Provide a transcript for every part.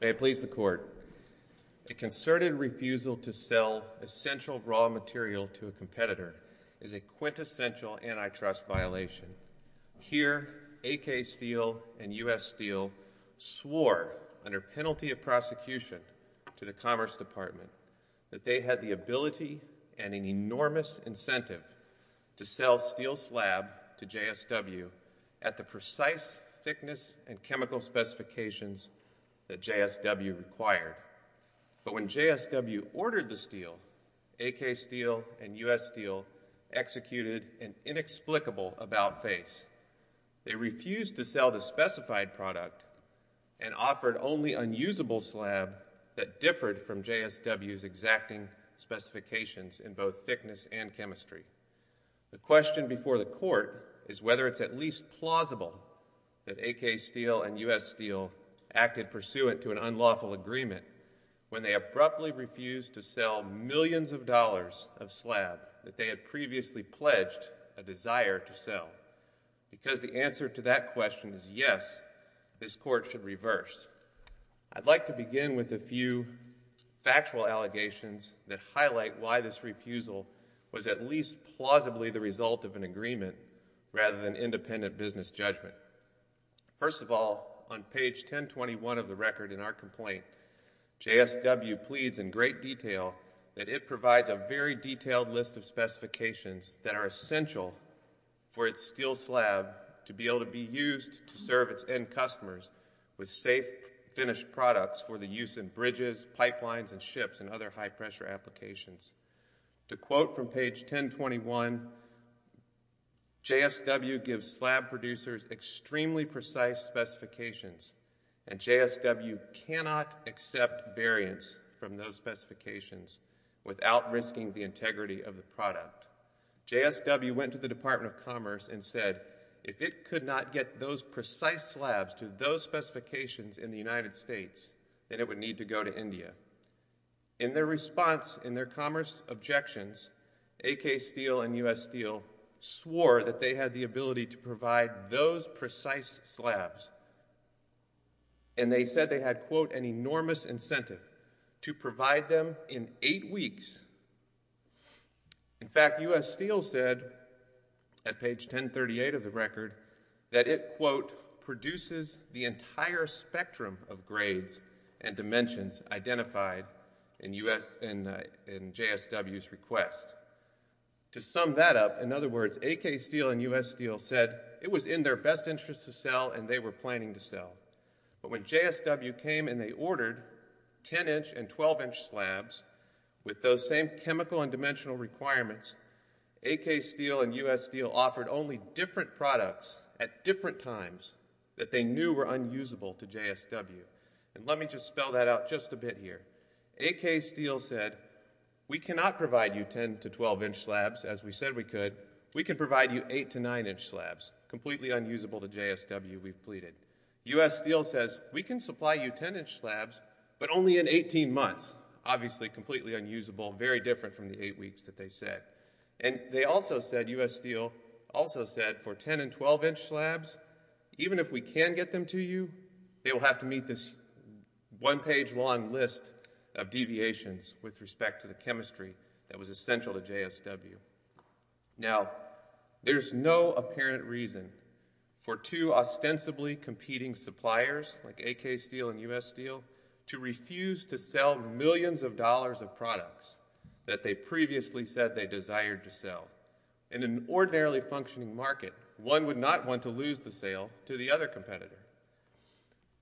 May it please the Court, a concerted refusal to sell essential raw material to a competitor is a quintessential antitrust violation. Here, AK Steel and US Steel swore under penalty of prosecution to the Commerce Department that they had the ability and an enormous incentive to sell steel slab to JSW at the precise thickness and chemical specifications that JSW required. But when JSW ordered the steel, AK Steel and US Steel executed an inexplicable about-face. They refused to sell the specified product and offered only unusable slab that differed from JSW's exacting specifications in both thickness and chemistry. The question before the Court is whether it's at least plausible that AK Steel and US Steel acted pursuant to an unlawful agreement when they abruptly refused to sell millions of dollars of slab that they had previously pledged a desire to sell. Because the answer to that question is yes, this Court should reverse. I'd like to begin with a few factual allegations that highlight why this refusal was at least plausibly the result of an agreement rather than independent business judgment. First of all, on page 1021 of the record in our complaint, JSW pleads in great detail that it provides a very detailed list of specifications that are essential for its steel slab to be able to be used to serve its end customers with safe, finished products for the use in bridges, pipelines and ships and other high-pressure applications. To quote from page 1021, JSW gives slab producers extremely precise specifications and JSW cannot accept variance from those specifications without risking the integrity of the product. JSW went to the Department of Commerce and said if it could not get those precise slabs to those specifications in the United States, then it would need to go to India. In their response, in their commerce objections, AK Steel and US Steel swore that they had the ability to provide those precise slabs and they said they had, quote, an enormous incentive to provide them in eight weeks. In fact, US Steel said at page 1038 of the record that it, quote, produces the entire spectrum of grades and dimensions identified in JSW's request. To sum that up, in other words, AK Steel and US Steel said it was in their best interest to sell and they were planning to sell. But when JSW came and they ordered 10-inch and 12-inch slabs with those same chemical and dimensional requirements, AK Steel and US Steel offered only different products at different times that they knew were unusable to JSW. Let me just spell that out just a bit here. AK Steel said, we cannot provide you 10- to 12-inch slabs as we said we could. We can provide you 8- to 9-inch slabs, completely unusable to JSW, we've pleaded. US Steel says, we can supply you 10-inch slabs, but only in 18 months, obviously completely unusable, very different from the eight weeks that they said. And they also said, US Steel also said, for 10- and 12-inch slabs, even if we can get them to you, they will have to meet this one page long list of deviations with respect to the chemistry that was essential to JSW. Now there's no apparent reason for two ostensibly competing suppliers, like AK Steel and US Steel, to refuse to sell millions of dollars of products that they previously said they desired to sell. In an ordinarily functioning market, one would not want to lose the sale to the other competitor.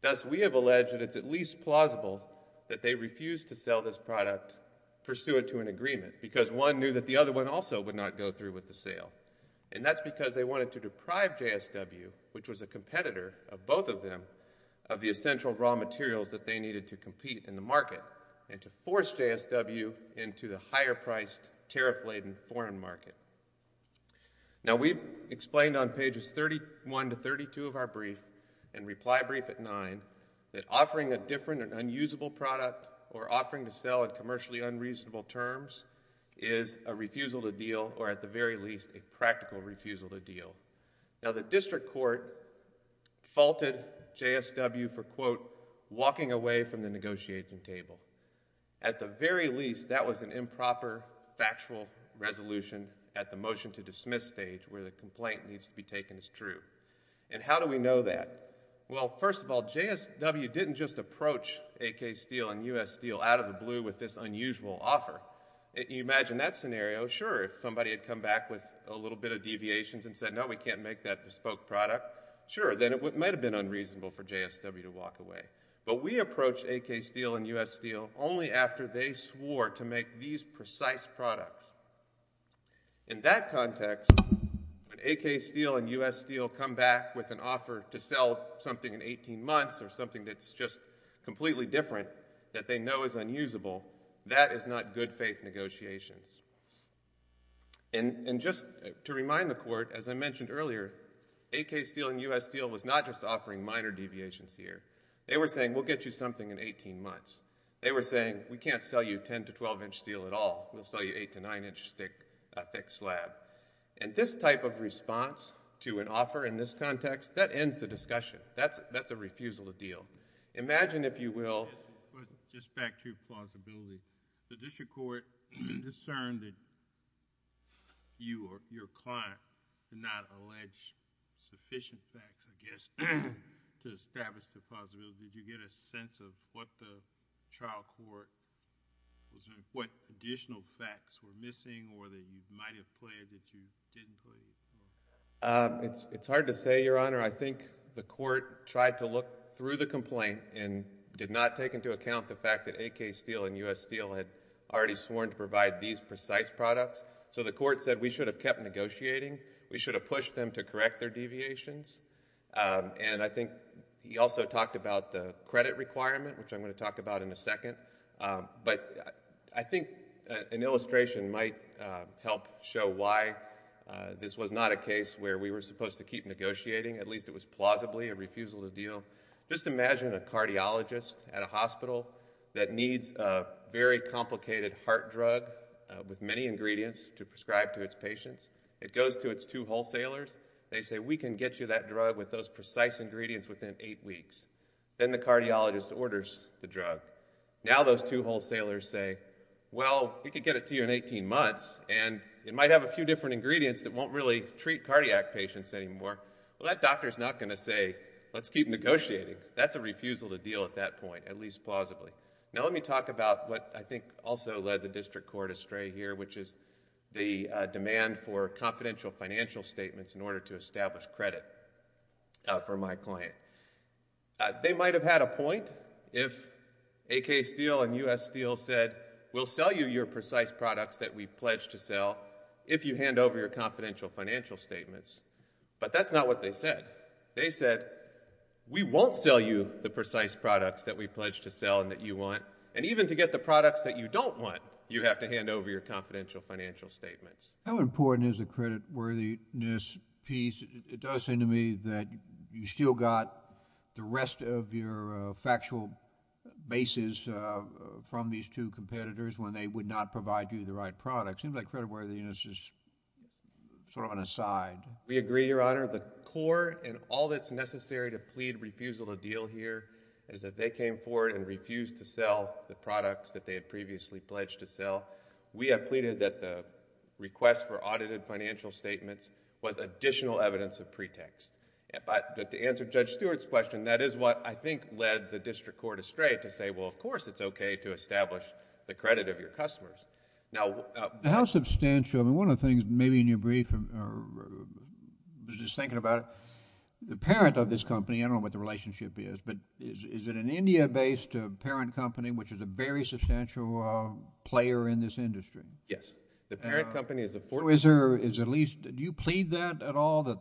Thus, we have alleged that it's at least plausible that they refused to sell this product pursuant to an agreement, because one knew that the other one also would not go through with the sale. And that's because they wanted to deprive JSW, which was a competitor of both of them, of the essential raw materials that they needed to compete in the market, and to force JSW into the higher-priced, tariff-laden foreign market. Now we've explained on pages 31 to 32 of our brief, and reply brief at 9, that offering a different and unusable product, or offering to sell in commercially unreasonable terms, is a refusal to deal, or at the very least, a practical refusal to deal. Now the district court faulted JSW for, quote, walking away from the negotiating table. At the very least, that was an improper, factual resolution at the motion-to-dismiss stage, where the complaint needs to be taken as true. And how do we know that? Well, first of all, JSW didn't just approach AK Steel and US Steel out of the blue with this unusual offer. Imagine that scenario, sure, if somebody had come back with a little bit of deviations and said, no, we can't make that bespoke product, sure, then it might have been unreasonable for JSW to walk away. But we approached AK Steel and US Steel only after they swore to make these precise products. In that context, when AK Steel and US Steel come back with an offer to sell something in 18 months, or something that's just completely different, that they know is unusable, that is not good faith negotiations. And just to remind the court, as I mentioned earlier, AK Steel and US Steel was not just offering minor deviations here. They were saying, we'll get you something in 18 months. They were saying, we can't sell you 10 to 12-inch steel at all. We'll sell you 8 to 9-inch thick slab. And this type of response to an offer in this context, that ends the discussion. That's a refusal to deal. Imagine if you will. But just back to plausibility, the district court discerned that you or your client did not allege sufficient facts, I guess, to establish the plausibility. Did you get a sense of what the trial court, what additional facts were missing, or that you might have played that you didn't play? It's hard to say, Your Honor. I think the court tried to look through the complaint and did not take into account the fact that AK Steel and US Steel had already sworn to provide these precise products. So the court said, we should have kept negotiating. We should have pushed them to correct their deviations. And I think he also talked about the credit requirement, which I'm going to talk about in a second. But I think an illustration might help show why this was not a case where we were supposed to keep negotiating. At least, it was plausibly a refusal to deal. Just imagine a cardiologist at a hospital that needs a very complicated heart drug with many ingredients to prescribe to its patients. It goes to its two wholesalers. They say, we can get you that drug with those precise ingredients within eight weeks. Then the cardiologist orders the drug. Now those two wholesalers say, well, we could get it to you in 18 months, and it might have a few different ingredients that won't really treat cardiac patients anymore. Well, that doctor's not going to say, let's keep negotiating. That's a refusal to deal at that point, at least plausibly. Now let me talk about what I think also led the district court astray here, which is the demand for confidential financial statements in order to establish credit for my client. They might have had a point if AK Steele and US Steel said, we'll sell you your precise products that we pledged to sell if you hand over your confidential financial statements. But that's not what they said. They said, we won't sell you the precise products that we pledged to sell and that you want. And even to get the products that you don't want, you have to hand over your confidential financial statements. How important is the credit worthiness piece? It does seem to me that you still got the rest of your factual basis from these two competitors when they would not provide you the right products. It seems like credit worthiness is sort of an aside. We agree, Your Honor. The core and all that's necessary to plead refusal to deal here is that they came forward and refused to sell the products that they had previously pledged to sell. We have pleaded that the request for audited financial statements was additional evidence of pretext. But to answer Judge Stewart's question, that is what I think led the district court astray to say, well, of course, it's okay to establish the credit of your customers. Now... How substantial? I mean, one of the things maybe in your brief, I was just thinking about it, the parent of this company, I don't know what the relationship is, but is it an India-based parent company which is a very substantial player in this industry? Yes. The parent company is a... Or is there at least... Do you plead that at all, that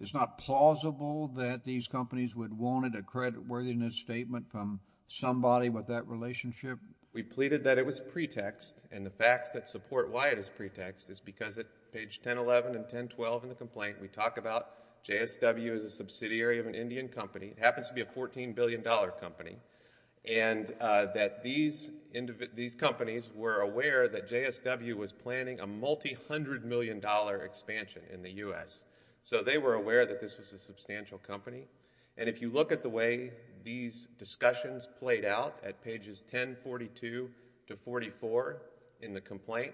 it's not plausible that these companies would want a credit worthiness statement from somebody with that relationship? We pleaded that it was pretext, and the facts that support why it is pretext is because at page 1011 and 1012 in the complaint, we talk about JSW as a subsidiary of an Indian company. It happens to be a $14 billion company, and that these companies were aware that JSW was planning a multi-hundred million dollar expansion in the U.S. So they were aware that this was a substantial company, and if you look at the way these discussions played out at pages 1042 to 44 in the complaint,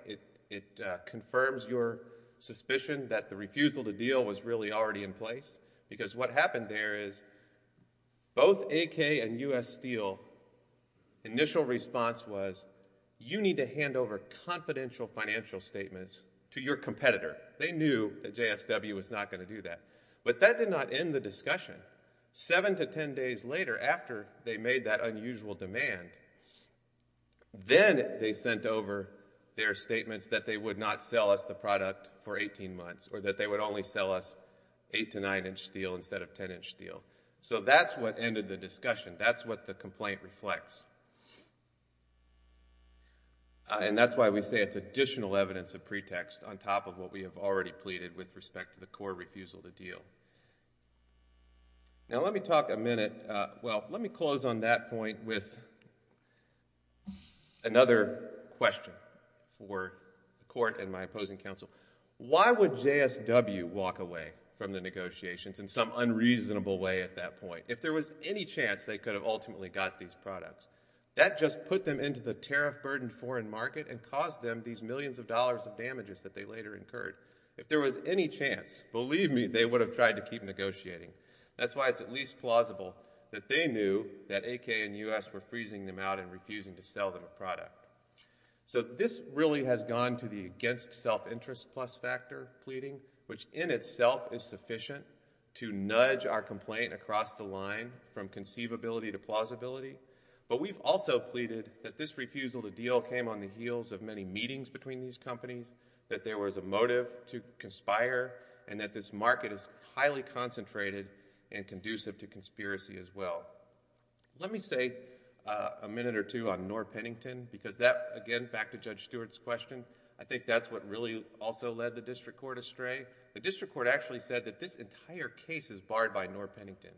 it confirms your suspicion that the refusal to deal was really already in place, because what happened there is both AK and U.S. Steel, initial response was, you need to hand over confidential financial statements to your competitor. They knew that JSW was not going to do that, but that did not end the discussion. Seven to ten days later, after they made that unusual demand, then they sent over their or that they would only sell us eight to nine inch steel instead of ten inch steel. So that's what ended the discussion. That's what the complaint reflects, and that's why we say it's additional evidence of pretext on top of what we have already pleaded with respect to the core refusal to deal. Now let me talk a minute, well, let me close on that point with another question for the panel. Why would JSW walk away from the negotiations in some unreasonable way at that point, if there was any chance they could have ultimately got these products? That just put them into the tariff burdened foreign market and caused them these millions of dollars of damages that they later incurred. If there was any chance, believe me, they would have tried to keep negotiating. That's why it's at least plausible that they knew that AK and U.S. were freezing them out and refusing to sell them a product. So this really has gone to the against self-interest plus factor pleading, which in itself is sufficient to nudge our complaint across the line from conceivability to plausibility. But we've also pleaded that this refusal to deal came on the heels of many meetings between these companies, that there was a motive to conspire, and that this market is highly concentrated and conducive to conspiracy as well. Let me stay a minute or two on Norr Pennington, because that, again, back to Judge Stewart's question, I think that's what really also led the district court astray. The district court actually said that this entire case is barred by Norr Pennington,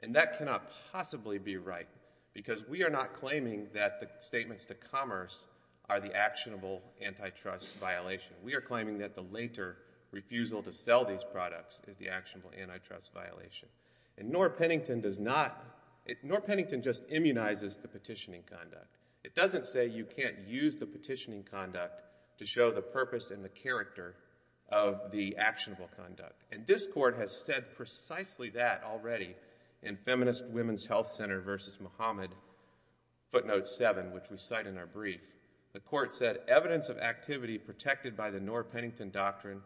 and that cannot possibly be right, because we are not claiming that the statements to commerce are the actionable antitrust violation. We are claiming that the later refusal to sell these products is the actionable antitrust violation. And Norr Pennington does not, Norr Pennington just immunizes the petitioning conduct. It doesn't say you can't use the petitioning conduct to show the purpose and the character of the actionable conduct. And this court has said precisely that already in Feminist Women's Health Center v. Muhammad footnote 7, which we cite in our brief. The court said, evidence of activity protected by the Norr Pennington doctrine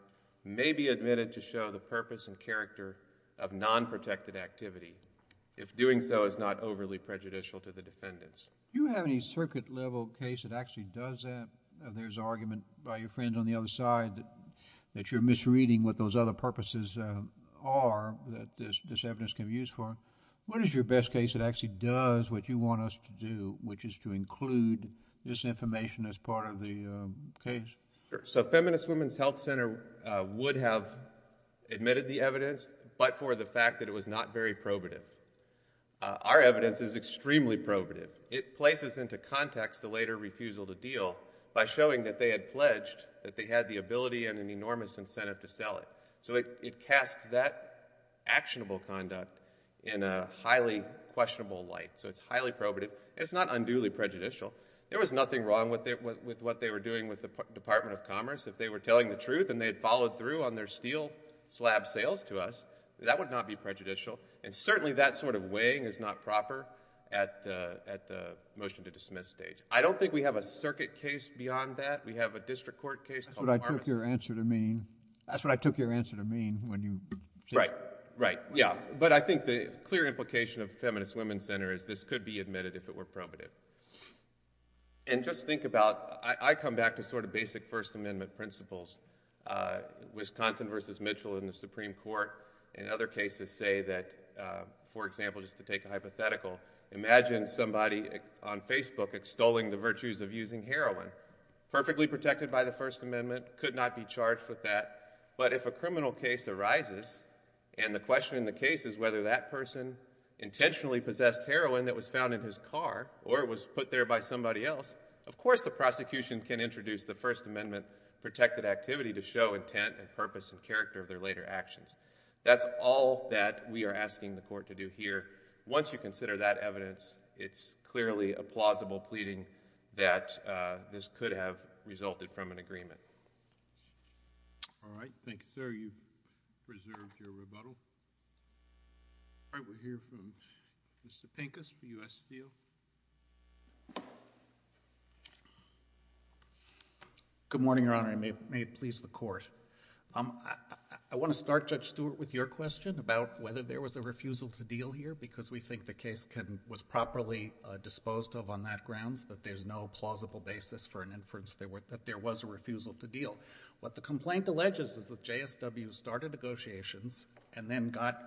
may be admitted to show the purpose and character of non-protected activity, if doing so is not overly prejudicial to the defendants. You have any circuit level case that actually does that? There's argument by your friend on the other side that you're misreading what those other purposes are that this evidence can be used for. What is your best case that actually does what you want us to do, which is to include this information as part of the case? So Feminist Women's Health Center would have admitted the evidence, but for the fact that it was not very probative. Our evidence is extremely probative. It places into context the later refusal to deal by showing that they had pledged that they had the ability and an enormous incentive to sell it. So it casts that actionable conduct in a highly questionable light. So it's highly probative. It's not unduly prejudicial. There was nothing wrong with what they were doing with the Department of Commerce. If they were telling the truth and they had followed through on their steel slab sales to us, that would not be prejudicial. And certainly that sort of weighing is not proper at the motion to dismiss stage. I don't think we have a circuit case beyond that. We have a district court case. That's what I took your answer to mean. That's what I took your answer to mean when you said that. Right. Right. Yeah. But I think the clear implication of Feminist Women's Center is this could be admitted if it were probative. And just think about, I come back to sort of basic First Amendment principles. Wisconsin versus Mitchell in the Supreme Court in other cases say that, for example, just to take a hypothetical, imagine somebody on Facebook extolling the virtues of using heroin. Perfectly protected by the First Amendment, could not be charged with that. But if a criminal case arises and the question in the case is whether that person intentionally possessed heroin that was found in his car or was put there by somebody else, of course the prosecution can introduce the First Amendment protected activity to show intent and purpose and character of their later actions. That's all that we are asking the court to do here. Once you consider that evidence, it's clearly a plausible pleading that this could have resulted from an agreement. All right. You've preserved your rebuttal. All right. We'll hear from Mr. Pincus for U.S. Steel. Good morning, Your Honor. May it please the court. I want to start, Judge Stewart, with your question about whether there was a refusal to deal here because we think the case was properly disposed of on that grounds, that there's no plausible basis for an inference that there was a refusal to deal. What the complaint alleges is that JSW started negotiations and then got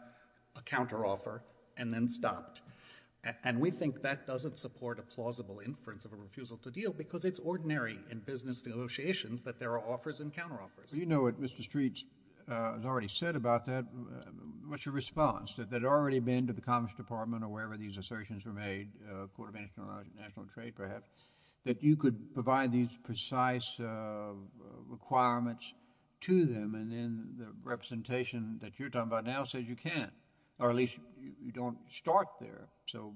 a counteroffer and then stopped. And we think that doesn't support a plausible inference of a refusal to deal because it's ordinary in business negotiations that there are offers and counteroffers. Well, you know what Mr. Streets has already said about that. What's your response? That it had already been to the Commerce Department or wherever these assertions were made, the requirements to them, and then the representation that you're talking about now says you can't or at least you don't start there. So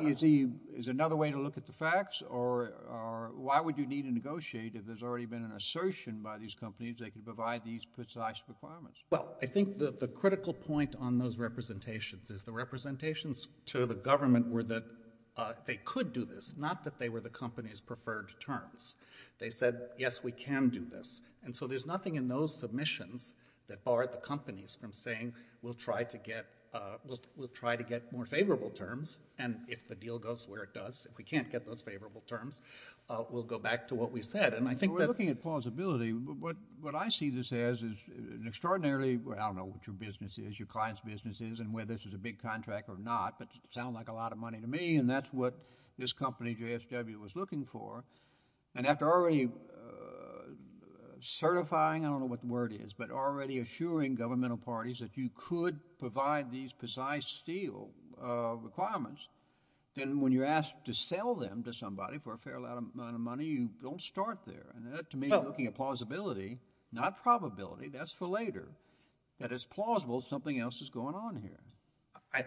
is there another way to look at the facts or why would you need to negotiate if there's already been an assertion by these companies they could provide these precise requirements? Well, I think the critical point on those representations is the representations to the government were that they could do this, not that they were the company's preferred terms. They said, yes, we can do this. And so there's nothing in those submissions that barred the companies from saying we'll try to get more favorable terms and if the deal goes where it does, if we can't get those favorable terms, we'll go back to what we said. We're looking at plausibility. What I see this as is an extraordinarily, I don't know what your business is, your client's business is and whether this is a big contract or not, but it sounds like a lot of money to me and that's what this company, JSW, was looking for. And after already certifying, I don't know what the word is, but already assuring governmental parties that you could provide these precise steel requirements, then when you're asked to sell them to somebody for a fair amount of money, you don't start there. And to me, you're looking at plausibility, not probability. That's for later. That it's plausible something else is going on here.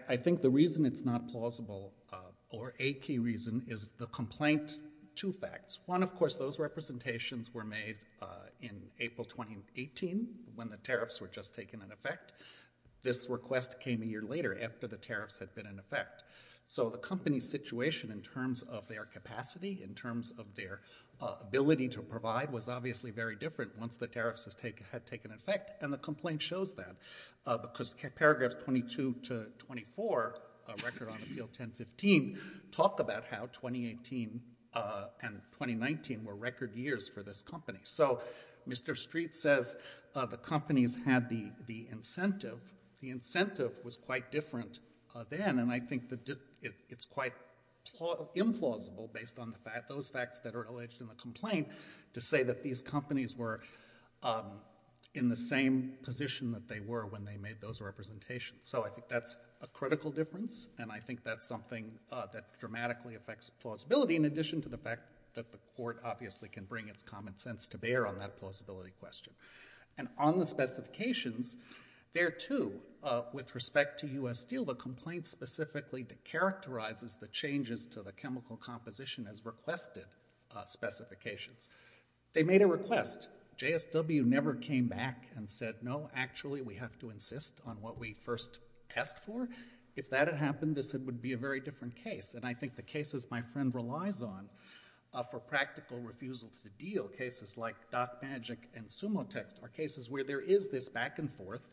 I think the reason it's not plausible or a key reason is the complaint, two facts. One, of course, those representations were made in April 2018 when the tariffs were just taken in effect. This request came a year later after the tariffs had been in effect. So the company's situation in terms of their capacity, in terms of their ability to provide was obviously very different once the tariffs had taken effect and the complaint shows that because paragraphs 22 to 24 of Record on Appeal 1015 talk about how 2018 and 2019 were record years for this company. So Mr. Street says the companies had the incentive. The incentive was quite different then and I think it's quite implausible based on those facts that are alleged in the complaint to say that these companies were in the same position that they were when they made those representations. So I think that's a critical difference and I think that's something that dramatically affects plausibility in addition to the fact that the court obviously can bring its common sense to bear on that plausibility question. And on the specifications, there too, with respect to U.S. Steel, the complaint specifically characterizes the changes to the chemical composition as requested specifications. They made a request. JSW never came back and said, no, actually we have to insist on what we first asked for. If that had happened, this would be a very different case and I think the cases my friend relies on for practical refusal to deal, cases like DocMagic and Sumotext are cases where there is this back and forth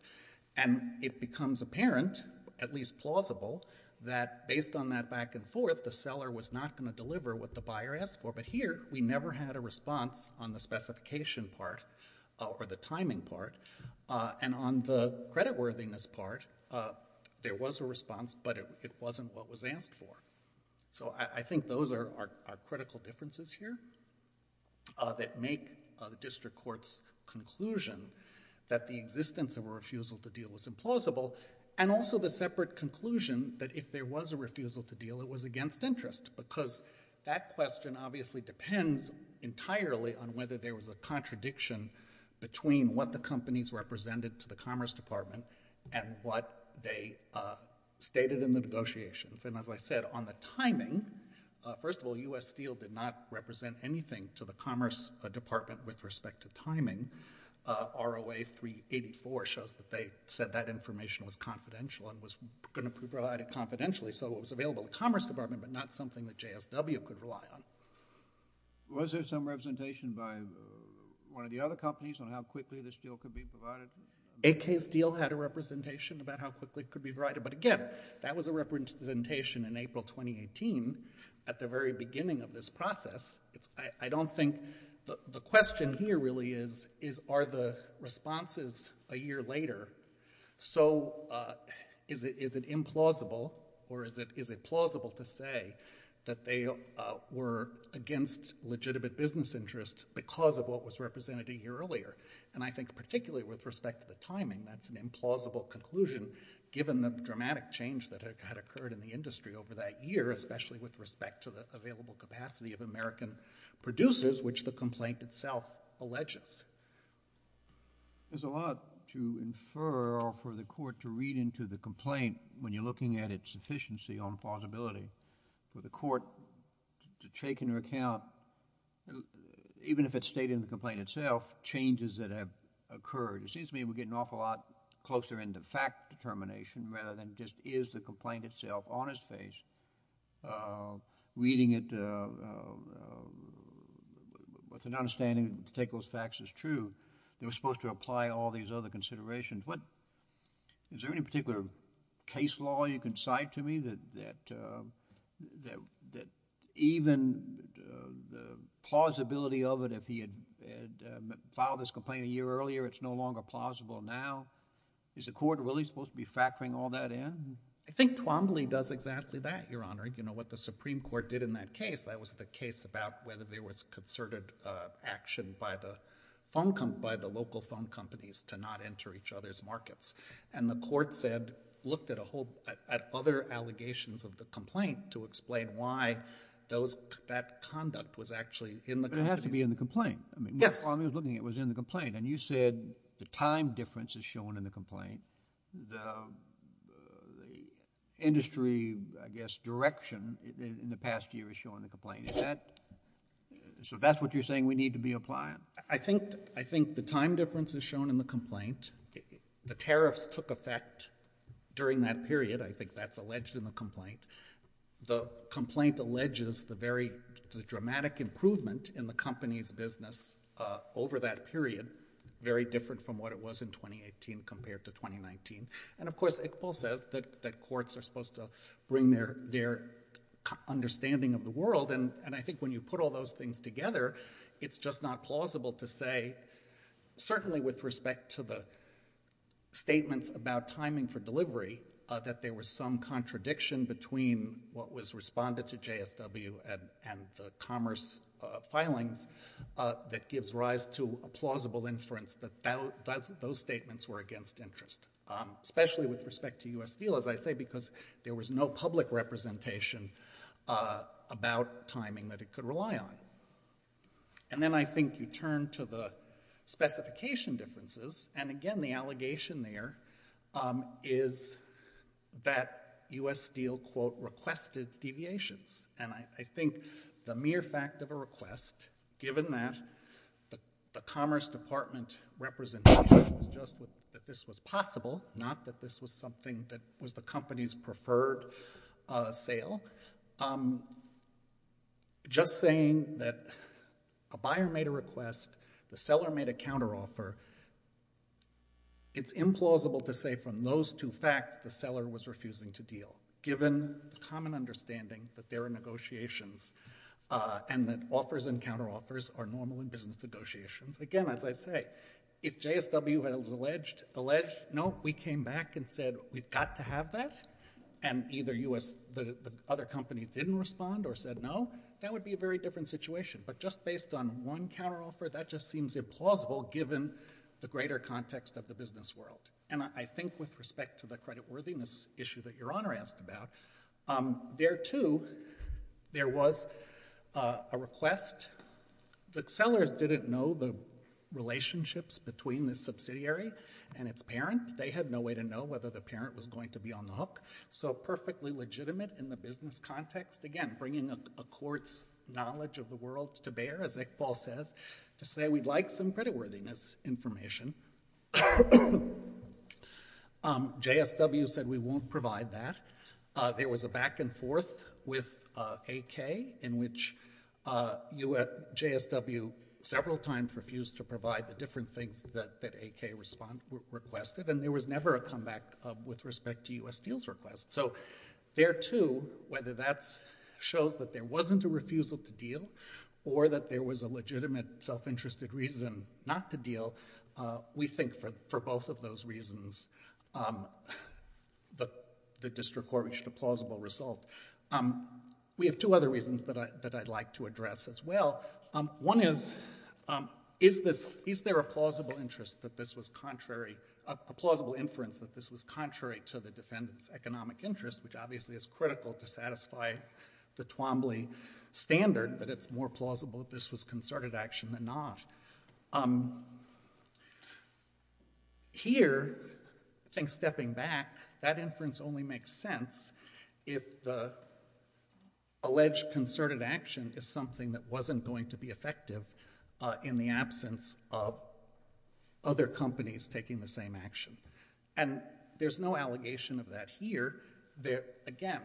and it becomes apparent, at least plausible, that based on that back and forth, the seller was not going to deliver what the buyer asked for. But here, we never had a response on the specification part or the timing part. And on the creditworthiness part, there was a response but it wasn't what was asked for. So I think those are critical differences here that make the district court's conclusion that the existence of a refusal to deal was implausible and also the separate conclusion that if there was a refusal to deal, it was against interest. Because that question obviously depends entirely on whether there was a contradiction between what the companies represented to the Commerce Department and what they stated in the negotiations. And as I said, on the timing, first of all, U.S. Steel did not represent anything to the Commerce Department with respect to timing. ROA 384 shows that they said that information was confidential and was going to provide it confidentially. So it was available to the Commerce Department but not something that JSW could rely on. Was there some representation by one of the other companies on how quickly this deal could be provided? AK Steel had a representation about how quickly it could be provided. But again, that was a representation in April 2018 at the very beginning of this process. I don't think the question here really is, are the responses a year later? So is it implausible or is it plausible to say that they were against legitimate business interest because of what was represented a year earlier? And I think particularly with respect to the timing, that's an implausible conclusion given the dramatic change that had occurred in the industry over that year, especially with respect to the available capacity of American producers, which the complaint itself alleges. There's a lot to infer or for the court to read into the complaint when you're looking at its sufficiency on plausibility. For the court to take into account, even if it's stated in the complaint itself, changes that have occurred. It seems to me we're getting an awful lot closer into fact determination rather than just is the complaint itself on its face. Reading it with an understanding to take those facts as true. They were supposed to apply all these other considerations. Is there any particular case law you can cite to me that even the plausibility of it, if he had filed this complaint a year earlier, it's no longer plausible now? Is the court really supposed to be factoring all that in? I think Twombly does exactly that, Your Honor. What the Supreme Court did in that case, that was the case about whether there was concerted action by the local phone companies to not enter each other's markets. And the court looked at other allegations of the complaint to explain why that conduct was actually in the complaint. But it had to be in the complaint. Yes. When Twombly was looking at it, it was in the complaint. And you said the time difference is shown in the complaint. The industry, I guess, direction in the past year is shown in the complaint. So that's what you're saying we need to be applying? I think the time difference is shown in the complaint. The tariffs took effect during that period. I think that's alleged in the complaint. The complaint alleges the dramatic improvement in the company's business over that period, very different from what it was in 2018 compared to 2019. And of course, Iqbal says that courts are supposed to bring their understanding of the world. And I think when you put all those things together, it's just not plausible to say, certainly with respect to the statements about timing for delivery, that there was some contradiction between what was responded to JSW and the commerce filings that gives rise to a plausible inference that those statements were against interest, especially with respect to U.S. Steel, as I say, because there was no public representation about timing that it could rely on. And then I think you turn to the specification differences. And again, the allegation there is that U.S. Steel, quote, requested deviations. And I think the mere fact of a request, given that the commerce department representation was just that this was possible, not that this was something that was the company's preferred sale, just saying that a buyer made a request, the seller made a counteroffer, it's implausible to say from those two facts the seller was refusing to deal, given the negotiations, and that offers and counteroffers are normal in business negotiations. Again, as I say, if JSW has alleged, no, we came back and said we've got to have that, and either the other company didn't respond or said no, that would be a very different situation. But just based on one counteroffer, that just seems implausible given the greater context of the business world. And I think with respect to the creditworthiness issue that Your Honor asked about, there, too, there was a request. The sellers didn't know the relationships between the subsidiary and its parent. They had no way to know whether the parent was going to be on the hook. So perfectly legitimate in the business context, again, bringing a court's knowledge of the world to bear, as Iqbal says, to say we'd like some creditworthiness information. JSW said we won't provide that. There was a back and forth with AK in which JSW several times refused to provide the different things that AK requested, and there was never a comeback with respect to U.S. Steel's request. So there, too, whether that shows that there wasn't a refusal to deal or that there was a legitimate self-interested reason not to deal, we think for both of those reasons the district court reached a plausible result. We have two other reasons that I'd like to address as well. One is, is there a plausible inference that this was contrary to the defendant's economic interest, which obviously is critical to satisfy the Twombly standard, that it's more plausible that this was concerted action than not? Here, I think stepping back, that inference only makes sense if the alleged concerted action is something that wasn't going to be effective in the absence of other companies taking the same action. And there's no allegation of that here. Again,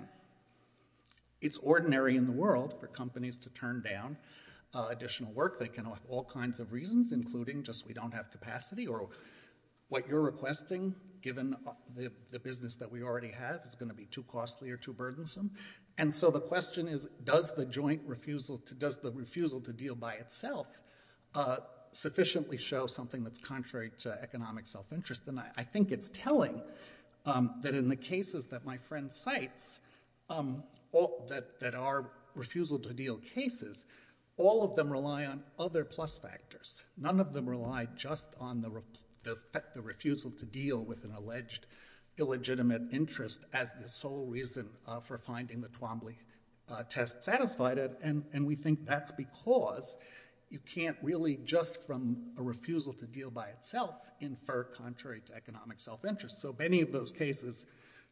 it's ordinary in the world for companies to turn down additional work. They can have all kinds of reasons, including just we don't have capacity or what you're requesting, given the business that we already have, is going to be too costly or too burdensome. And so the question is, does the refusal to deal by itself sufficiently show something that's contrary to economic self-interest? And I think it's telling that in the cases that my friend cites that are refusal-to-deal cases, all of them rely on other plus factors. None of them rely just on the refusal to deal with an alleged illegitimate interest as the sole reason for finding the Twombly test satisfied. And we think that's because you can't really just from a refusal to deal by itself infer contrary to economic self-interest. So many of those cases,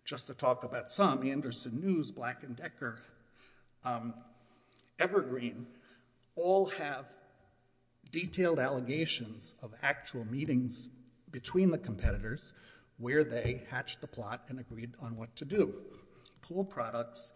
just to talk about some, Anderson News, Black & Decker, Evergreen, all have detailed allegations of actual meetings between the competitors where they hatched the plot and agreed on what to do. Pool Products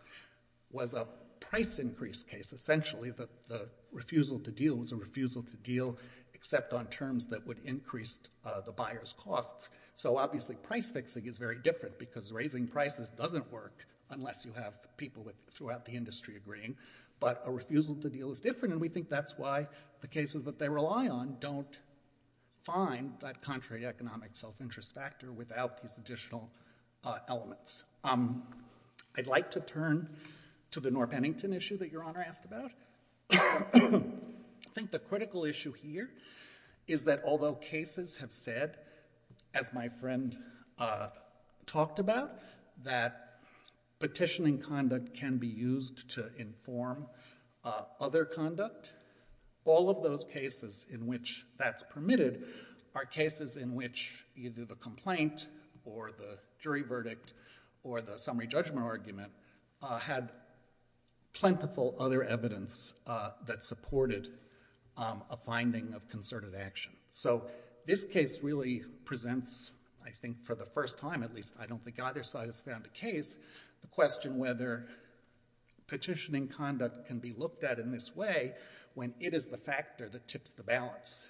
was a price increase case. Essentially, the refusal to deal was a refusal to deal except on terms that would increase the buyer's costs. So obviously, price fixing is very different, because raising prices doesn't work unless you have people throughout the industry agreeing. But a refusal to deal is different, and we think that's why the cases that they rely on don't find that contrary economic self-interest factor without these additional elements. I'd like to turn to the Norr Pennington issue that Your Honor asked about. I think the critical issue here is that although cases have said, as my friend talked about, that petitioning conduct can be used to inform other conduct, all of those cases in which that's permitted are cases in which either the complaint or the jury verdict or the summary are evidence that supported a finding of concerted action. So this case really presents, I think for the first time at least, I don't think either side has found a case, the question whether petitioning conduct can be looked at in this way when it is the factor that tips the balance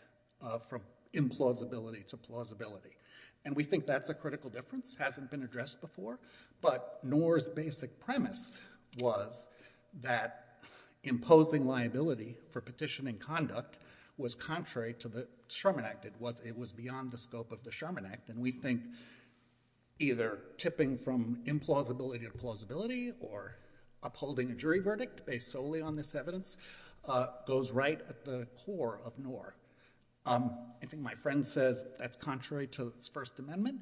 from implausibility to plausibility. And we think that's a critical difference. This hasn't been addressed before, but Norr's basic premise was that imposing liability for petitioning conduct was contrary to the Sherman Act. It was beyond the scope of the Sherman Act, and we think either tipping from implausibility to plausibility or upholding a jury verdict based solely on this evidence goes right at the core of Norr. I think my friend says that's contrary to the First Amendment.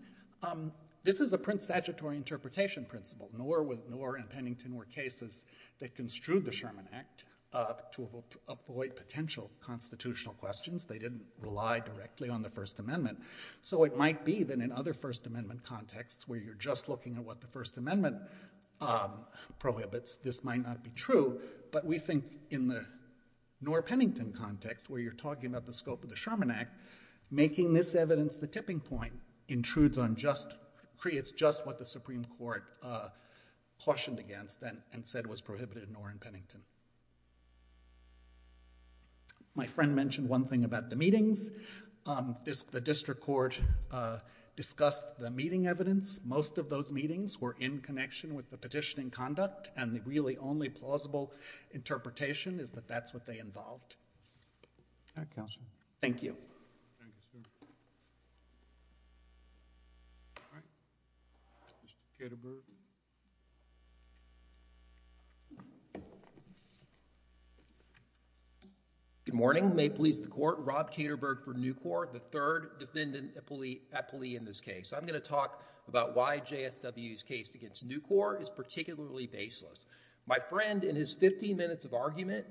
This is a print statutory interpretation principle. Norr and Pennington were cases that construed the Sherman Act to avoid potential constitutional questions. They didn't rely directly on the First Amendment. So it might be that in other First Amendment contexts where you're just looking at what the First Amendment prohibits, this might not be true. But we think in the Norr-Pennington context where you're talking about the scope of the Sherman Act, making this evidence the tipping point creates just what the Supreme Court cautioned against and said was prohibited in Norr and Pennington. My friend mentioned one thing about the meetings. The district court discussed the meeting evidence. Most of those meetings were in connection with the petitioning conduct, and the really only plausible interpretation is that that's what they involved. All right, counsel. Thank you. Thank you, sir. All right. Mr. Katerberg. Good morning. May it please the Court. Rob Katerberg for Nucor, the third defendant at plea in this case. I'm going to talk about why JSW's case against Nucor is particularly baseless. My friend, in his 15 minutes of argument,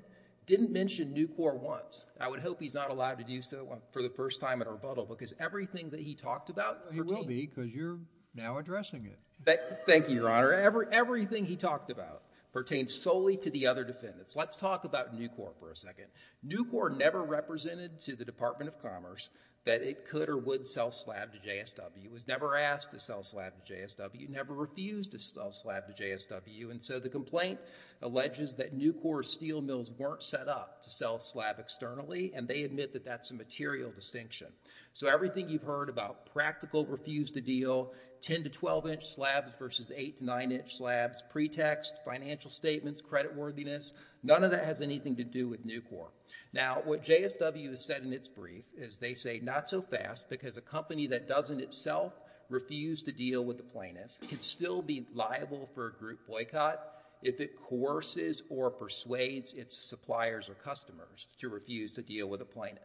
didn't mention Nucor once. I would hope he's not allowed to do so for the first time at rebuttal because everything that he talked about... He will be because you're now addressing it. Thank you, Your Honor. Everything he talked about pertains solely to the other defendants. Let's talk about Nucor for a second. Nucor never represented to the Department of Commerce that it could or would sell slab to JSW. It was never asked to sell slab to JSW. It never refused to sell slab to JSW. And so the complaint alleges that Nucor's steel mills weren't set up to sell slab externally, and they admit that that's a material distinction. So everything you've heard about practical refuse-to-deal, 10- to 12-inch slabs versus 8- to 9-inch slabs, pretext, financial statements, creditworthiness, none of that has anything to do with Nucor. Now, what JSW has said in its brief is they say not so fast because a company that doesn't itself refuse to deal with a plaintiff can still be liable for a group boycott if it coerces or persuades its suppliers or customers to refuse to deal with a plaintiff.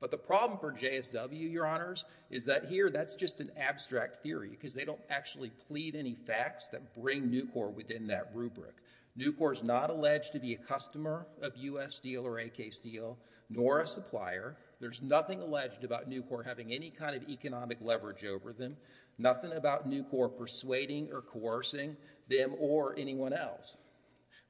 But the problem for JSW, Your Honors, is that here that's just an abstract theory because they don't actually plead any facts that bring Nucor within that rubric. Nucor is not alleged to be a customer of U.S. Steel or AK Steel nor a supplier. There's nothing alleged about Nucor having any kind of economic leverage over them, nothing about Nucor persuading or coercing them or anyone else.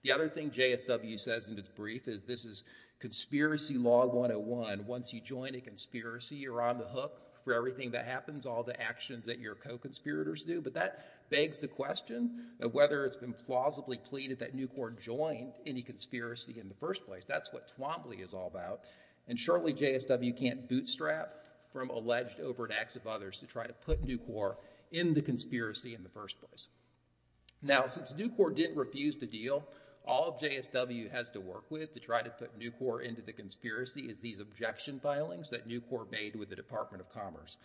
The other thing JSW says in its brief is this is conspiracy law 101. Once you join a conspiracy, you're on the hook for everything that happens, all the actions that your co-conspirators do. But that begs the question of whether it's been plausibly pleaded that Nucor joined any conspiracy in the first place. That's what Twombly is all about. And surely JSW can't bootstrap from alleged overt acts of others to try to put Nucor in the conspiracy in the first place. Now, since Nucor didn't refuse to deal, all JSW has to work with to try to put Nucor into the conspiracy is these objection filings that Nucor made with the Department of Commerce.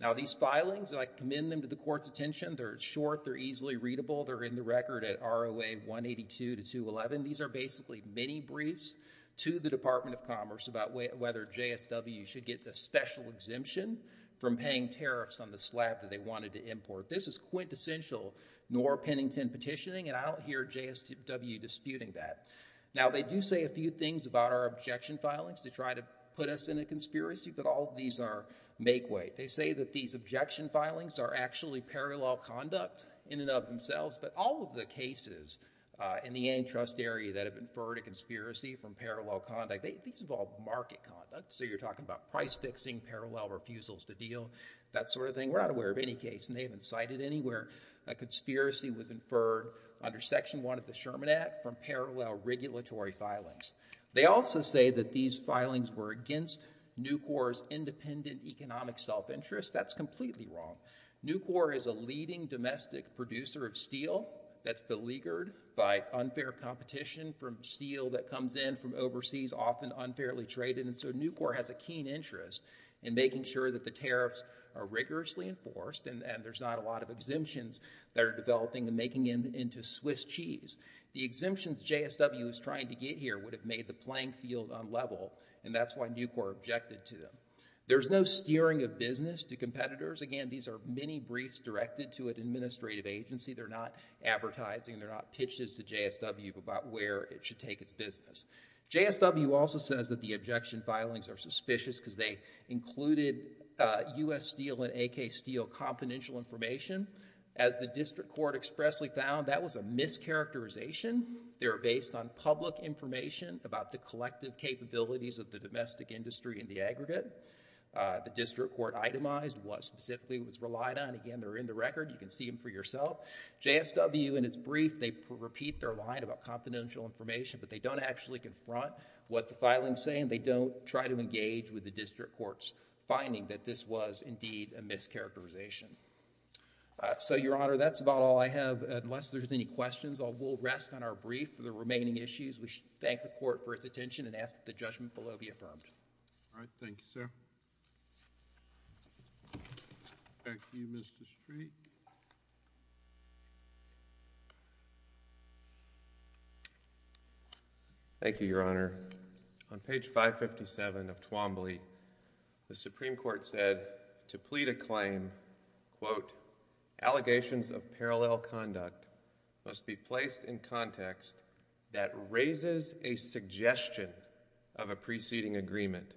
Now, these filings, I commend them to the Court's attention. They're short. They're easily readable. They're in the record at ROA 182 to 211. These are basically mini-briefs to the Department of Commerce about whether JSW should get the special exemption from paying tariffs on the slab that they wanted to import. This is quintessential Noor-Pennington petitioning, and I don't hear JSW disputing that. Now, they do say a few things about our objection filings to try to put us in a conspiracy, but all of these are make-weight. They say that these objection filings are actually parallel conduct in and of themselves, but all of the cases in the antitrust area that have inferred a conspiracy from parallel conduct, these involve market conduct. So you're talking about price-fixing, parallel refusals to deal, that sort of thing. We're not aware of any case, and they haven't cited anywhere a conspiracy was inferred under Section 1 of the Sherman Act from parallel regulatory filings. They also say that these filings were against Nucor's independent economic self-interest. That's completely wrong. Nucor is a leading domestic producer of steel that's beleaguered by unfair competition from steel that comes in from overseas, often unfairly traded, and so Nucor has a keen interest in making sure that the tariffs are rigorously enforced and there's not a lot of exemptions that are developing and making it into Swiss cheese. The exemptions JSW is trying to get here would have made the playing field unlevel, and that's why Nucor objected to them. There's no steering of business to competitors. Again, these are mini-briefs directed to an administrative agency. They're not advertising. They're not pitches to JSW about where it should take its business. JSW also says that the objection filings are suspicious because they included U.S. Steel and AK Steel confidential information. As the district court expressly found, that was a mischaracterization. They were based on public information about the collective capabilities of the domestic industry and the aggregate. The district court itemized what specifically it was relied on. Again, they're in the record. You can see them for yourself. JSW, in its brief, they repeat their line about confidential information, but they don't actually confront what the filing is saying. They don't try to engage with the district court's finding that this was indeed a mischaracterization. So, Your Honor, that's about all I have. Unless there's any questions, we'll rest on our brief for the remaining issues. We thank the court for its attention and ask that the judgment below be affirmed. All right. Thank you, sir. Back to you, Mr. Street. Thank you, Your Honor. On page 557 of Twombly, the Supreme Court said to plead a claim, quote, allegations of parallel conduct must be placed in context that raises a preceding agreement,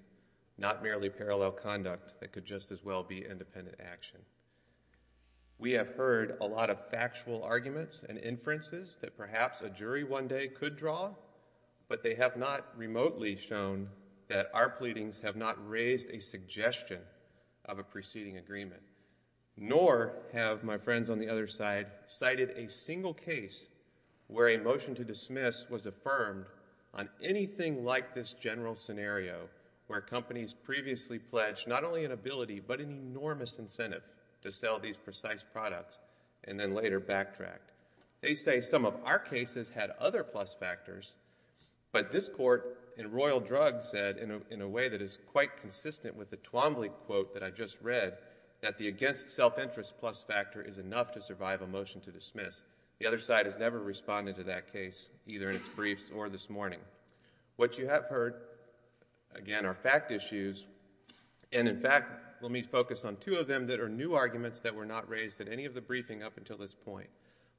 not merely parallel conduct that could just as well be independent action. We have heard a lot of factual arguments and inferences that perhaps a jury one day could draw, but they have not remotely shown that our pleadings have not raised a suggestion of a preceding agreement, nor have my friends on the other side cited a single case where a motion to dismiss was affirmed on anything like this general scenario where companies previously pledged not only an ability but an enormous incentive to sell these precise products and then later backtracked. They say some of our cases had other plus factors, but this court in Royal Drug said in a way that is quite consistent with the Twombly quote that I just read, that the against self-interest plus factor is enough to survive a motion to dismiss. The other side has never responded to that case, either in its briefs or this morning. What you have heard, again, are fact issues, and in fact, let me focus on two of them that are new arguments that were not raised at any of the briefing up until this point.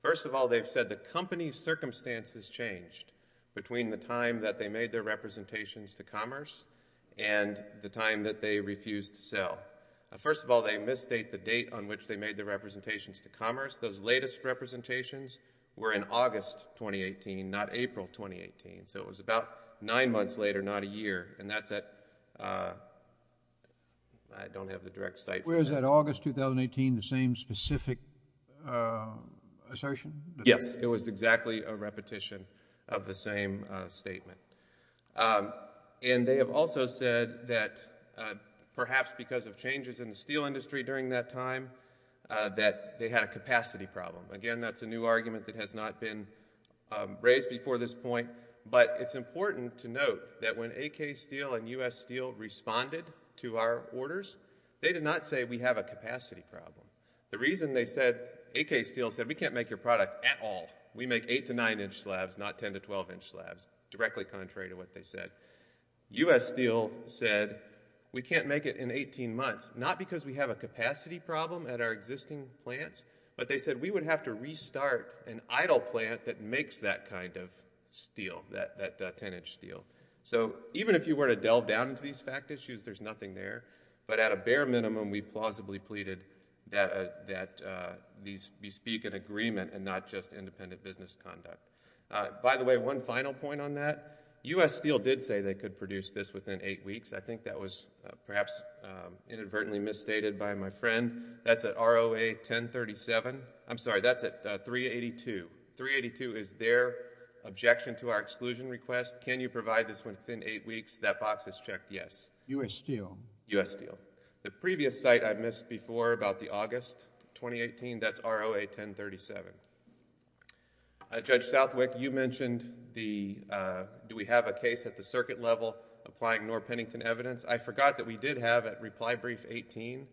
First of all, they've said the company's circumstances changed between the time that they made their representations to commerce and the time that they refused to sell. First of all, they misstate the date on which they made their representations to commerce. Those latest representations were in August 2018, not April 2018, so it was about nine months later, not a year, and that's at, I don't have the direct site. Was that August 2018, the same specific assertion? Yes. It was exactly a repetition of the same statement, and they have also said that perhaps because of changes in the steel industry during that time, that they had a capacity problem. Again, that's a new argument that has not been raised before this point, but it's important to note that when AK Steel and U.S. Steel responded to our orders, they did not say we have a capacity problem. The reason they said, AK Steel said, we can't make your product at all. We make 8 to 9-inch slabs, not 10 to 12-inch slabs, directly contrary to what they said. U.S. Steel said, we can't make it in 18 months, not because we have a capacity problem at our existing plants, but they said we would have to restart an idle plant that makes that kind of steel, that 10-inch steel. So even if you were to delve down into these fact issues, there's nothing there, but at a bare minimum, we plausibly pleaded that we speak in agreement and not just independent business conduct. By the way, one final point on that. U.S. Steel did say they could produce this within 8 weeks. I think that was perhaps inadvertently misstated by my friend. That's at ROA 1037. I'm sorry, that's at 382. 382 is their objection to our exclusion request. Can you provide this within 8 weeks? That box is checked yes. U.S. Steel. U.S. Steel. The previous site I missed before about the August 2018, that's ROA 1037. Judge Southwick, you mentioned the... do we have a case at the circuit level applying Norr-Pennington evidence? I forgot that we did have at Reply Brief 18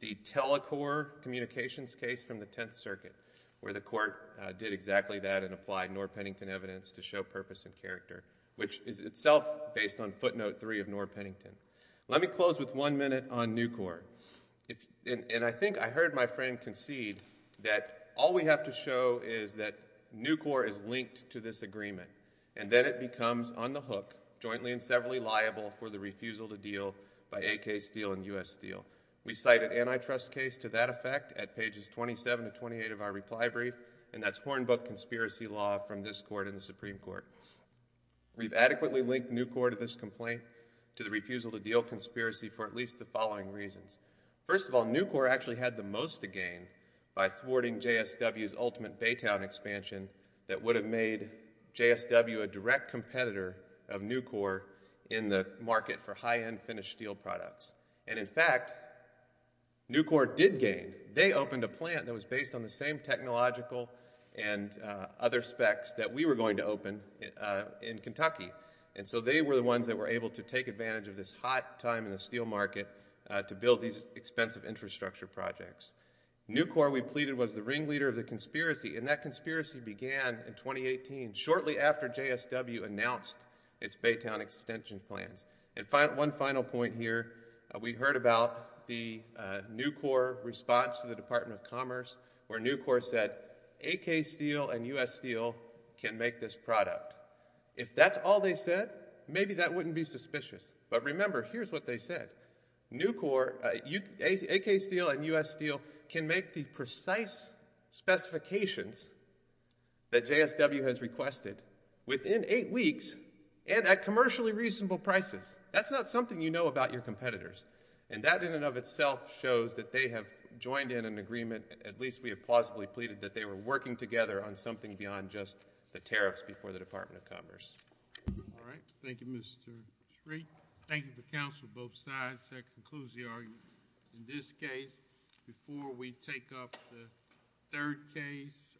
the Telecorp communications case from the Tenth Circuit where the court did exactly that and applied Norr-Pennington evidence to show purpose and character, which is itself based on footnote 3 of Norr-Pennington. Let me close with one minute on Nucor. I think I heard my friend concede that all we have to show is that Nucor is linked to this agreement and then it becomes on the hook jointly and severally liable for the refusal to deal by AK Steel and U.S. Steel. We cite an antitrust case to that effect at pages 27 to 28 of our Reply Brief and that's Hornbook conspiracy law from this court and the Supreme Court. We've adequately linked Nucor to this complaint to the refusal to deal conspiracy for at least the following reasons. First of all, Nucor actually had the most to gain by thwarting JSW's ultimate Baytown expansion that would have made JSW a direct competitor of Nucor in the market for high-end finished steel products. In fact, Nucor did gain. They opened a plant that was based on the same technological and other specs that we were going to open in Kentucky. And so they were the ones that were able to take advantage of this hot time in the steel market to build these expensive infrastructure projects. Nucor, we pleaded, was the ringleader of the conspiracy and that conspiracy began in 2018 shortly after JSW announced its Baytown extension plans. And one final point here, we heard about the Nucor response to the Department of Commerce where Nucor said AK Steel and U.S. Steel can make this product. If that's all they said, maybe that wouldn't be suspicious. But remember, here's what they said. Nucor, AK Steel and U.S. Steel can make the precise specifications that JSW has requested within eight weeks and at commercially reasonable prices. That's not something you know about your competitors. And that in and of itself shows that they have joined in an agreement, at least we have plausibly pleaded, that they were working together on something beyond just the tariffs before the Department of Commerce. All right. Thank you, Mr. Shree. Thank you to the counsel of both sides. That concludes the argument in this case. Before we take up the third case.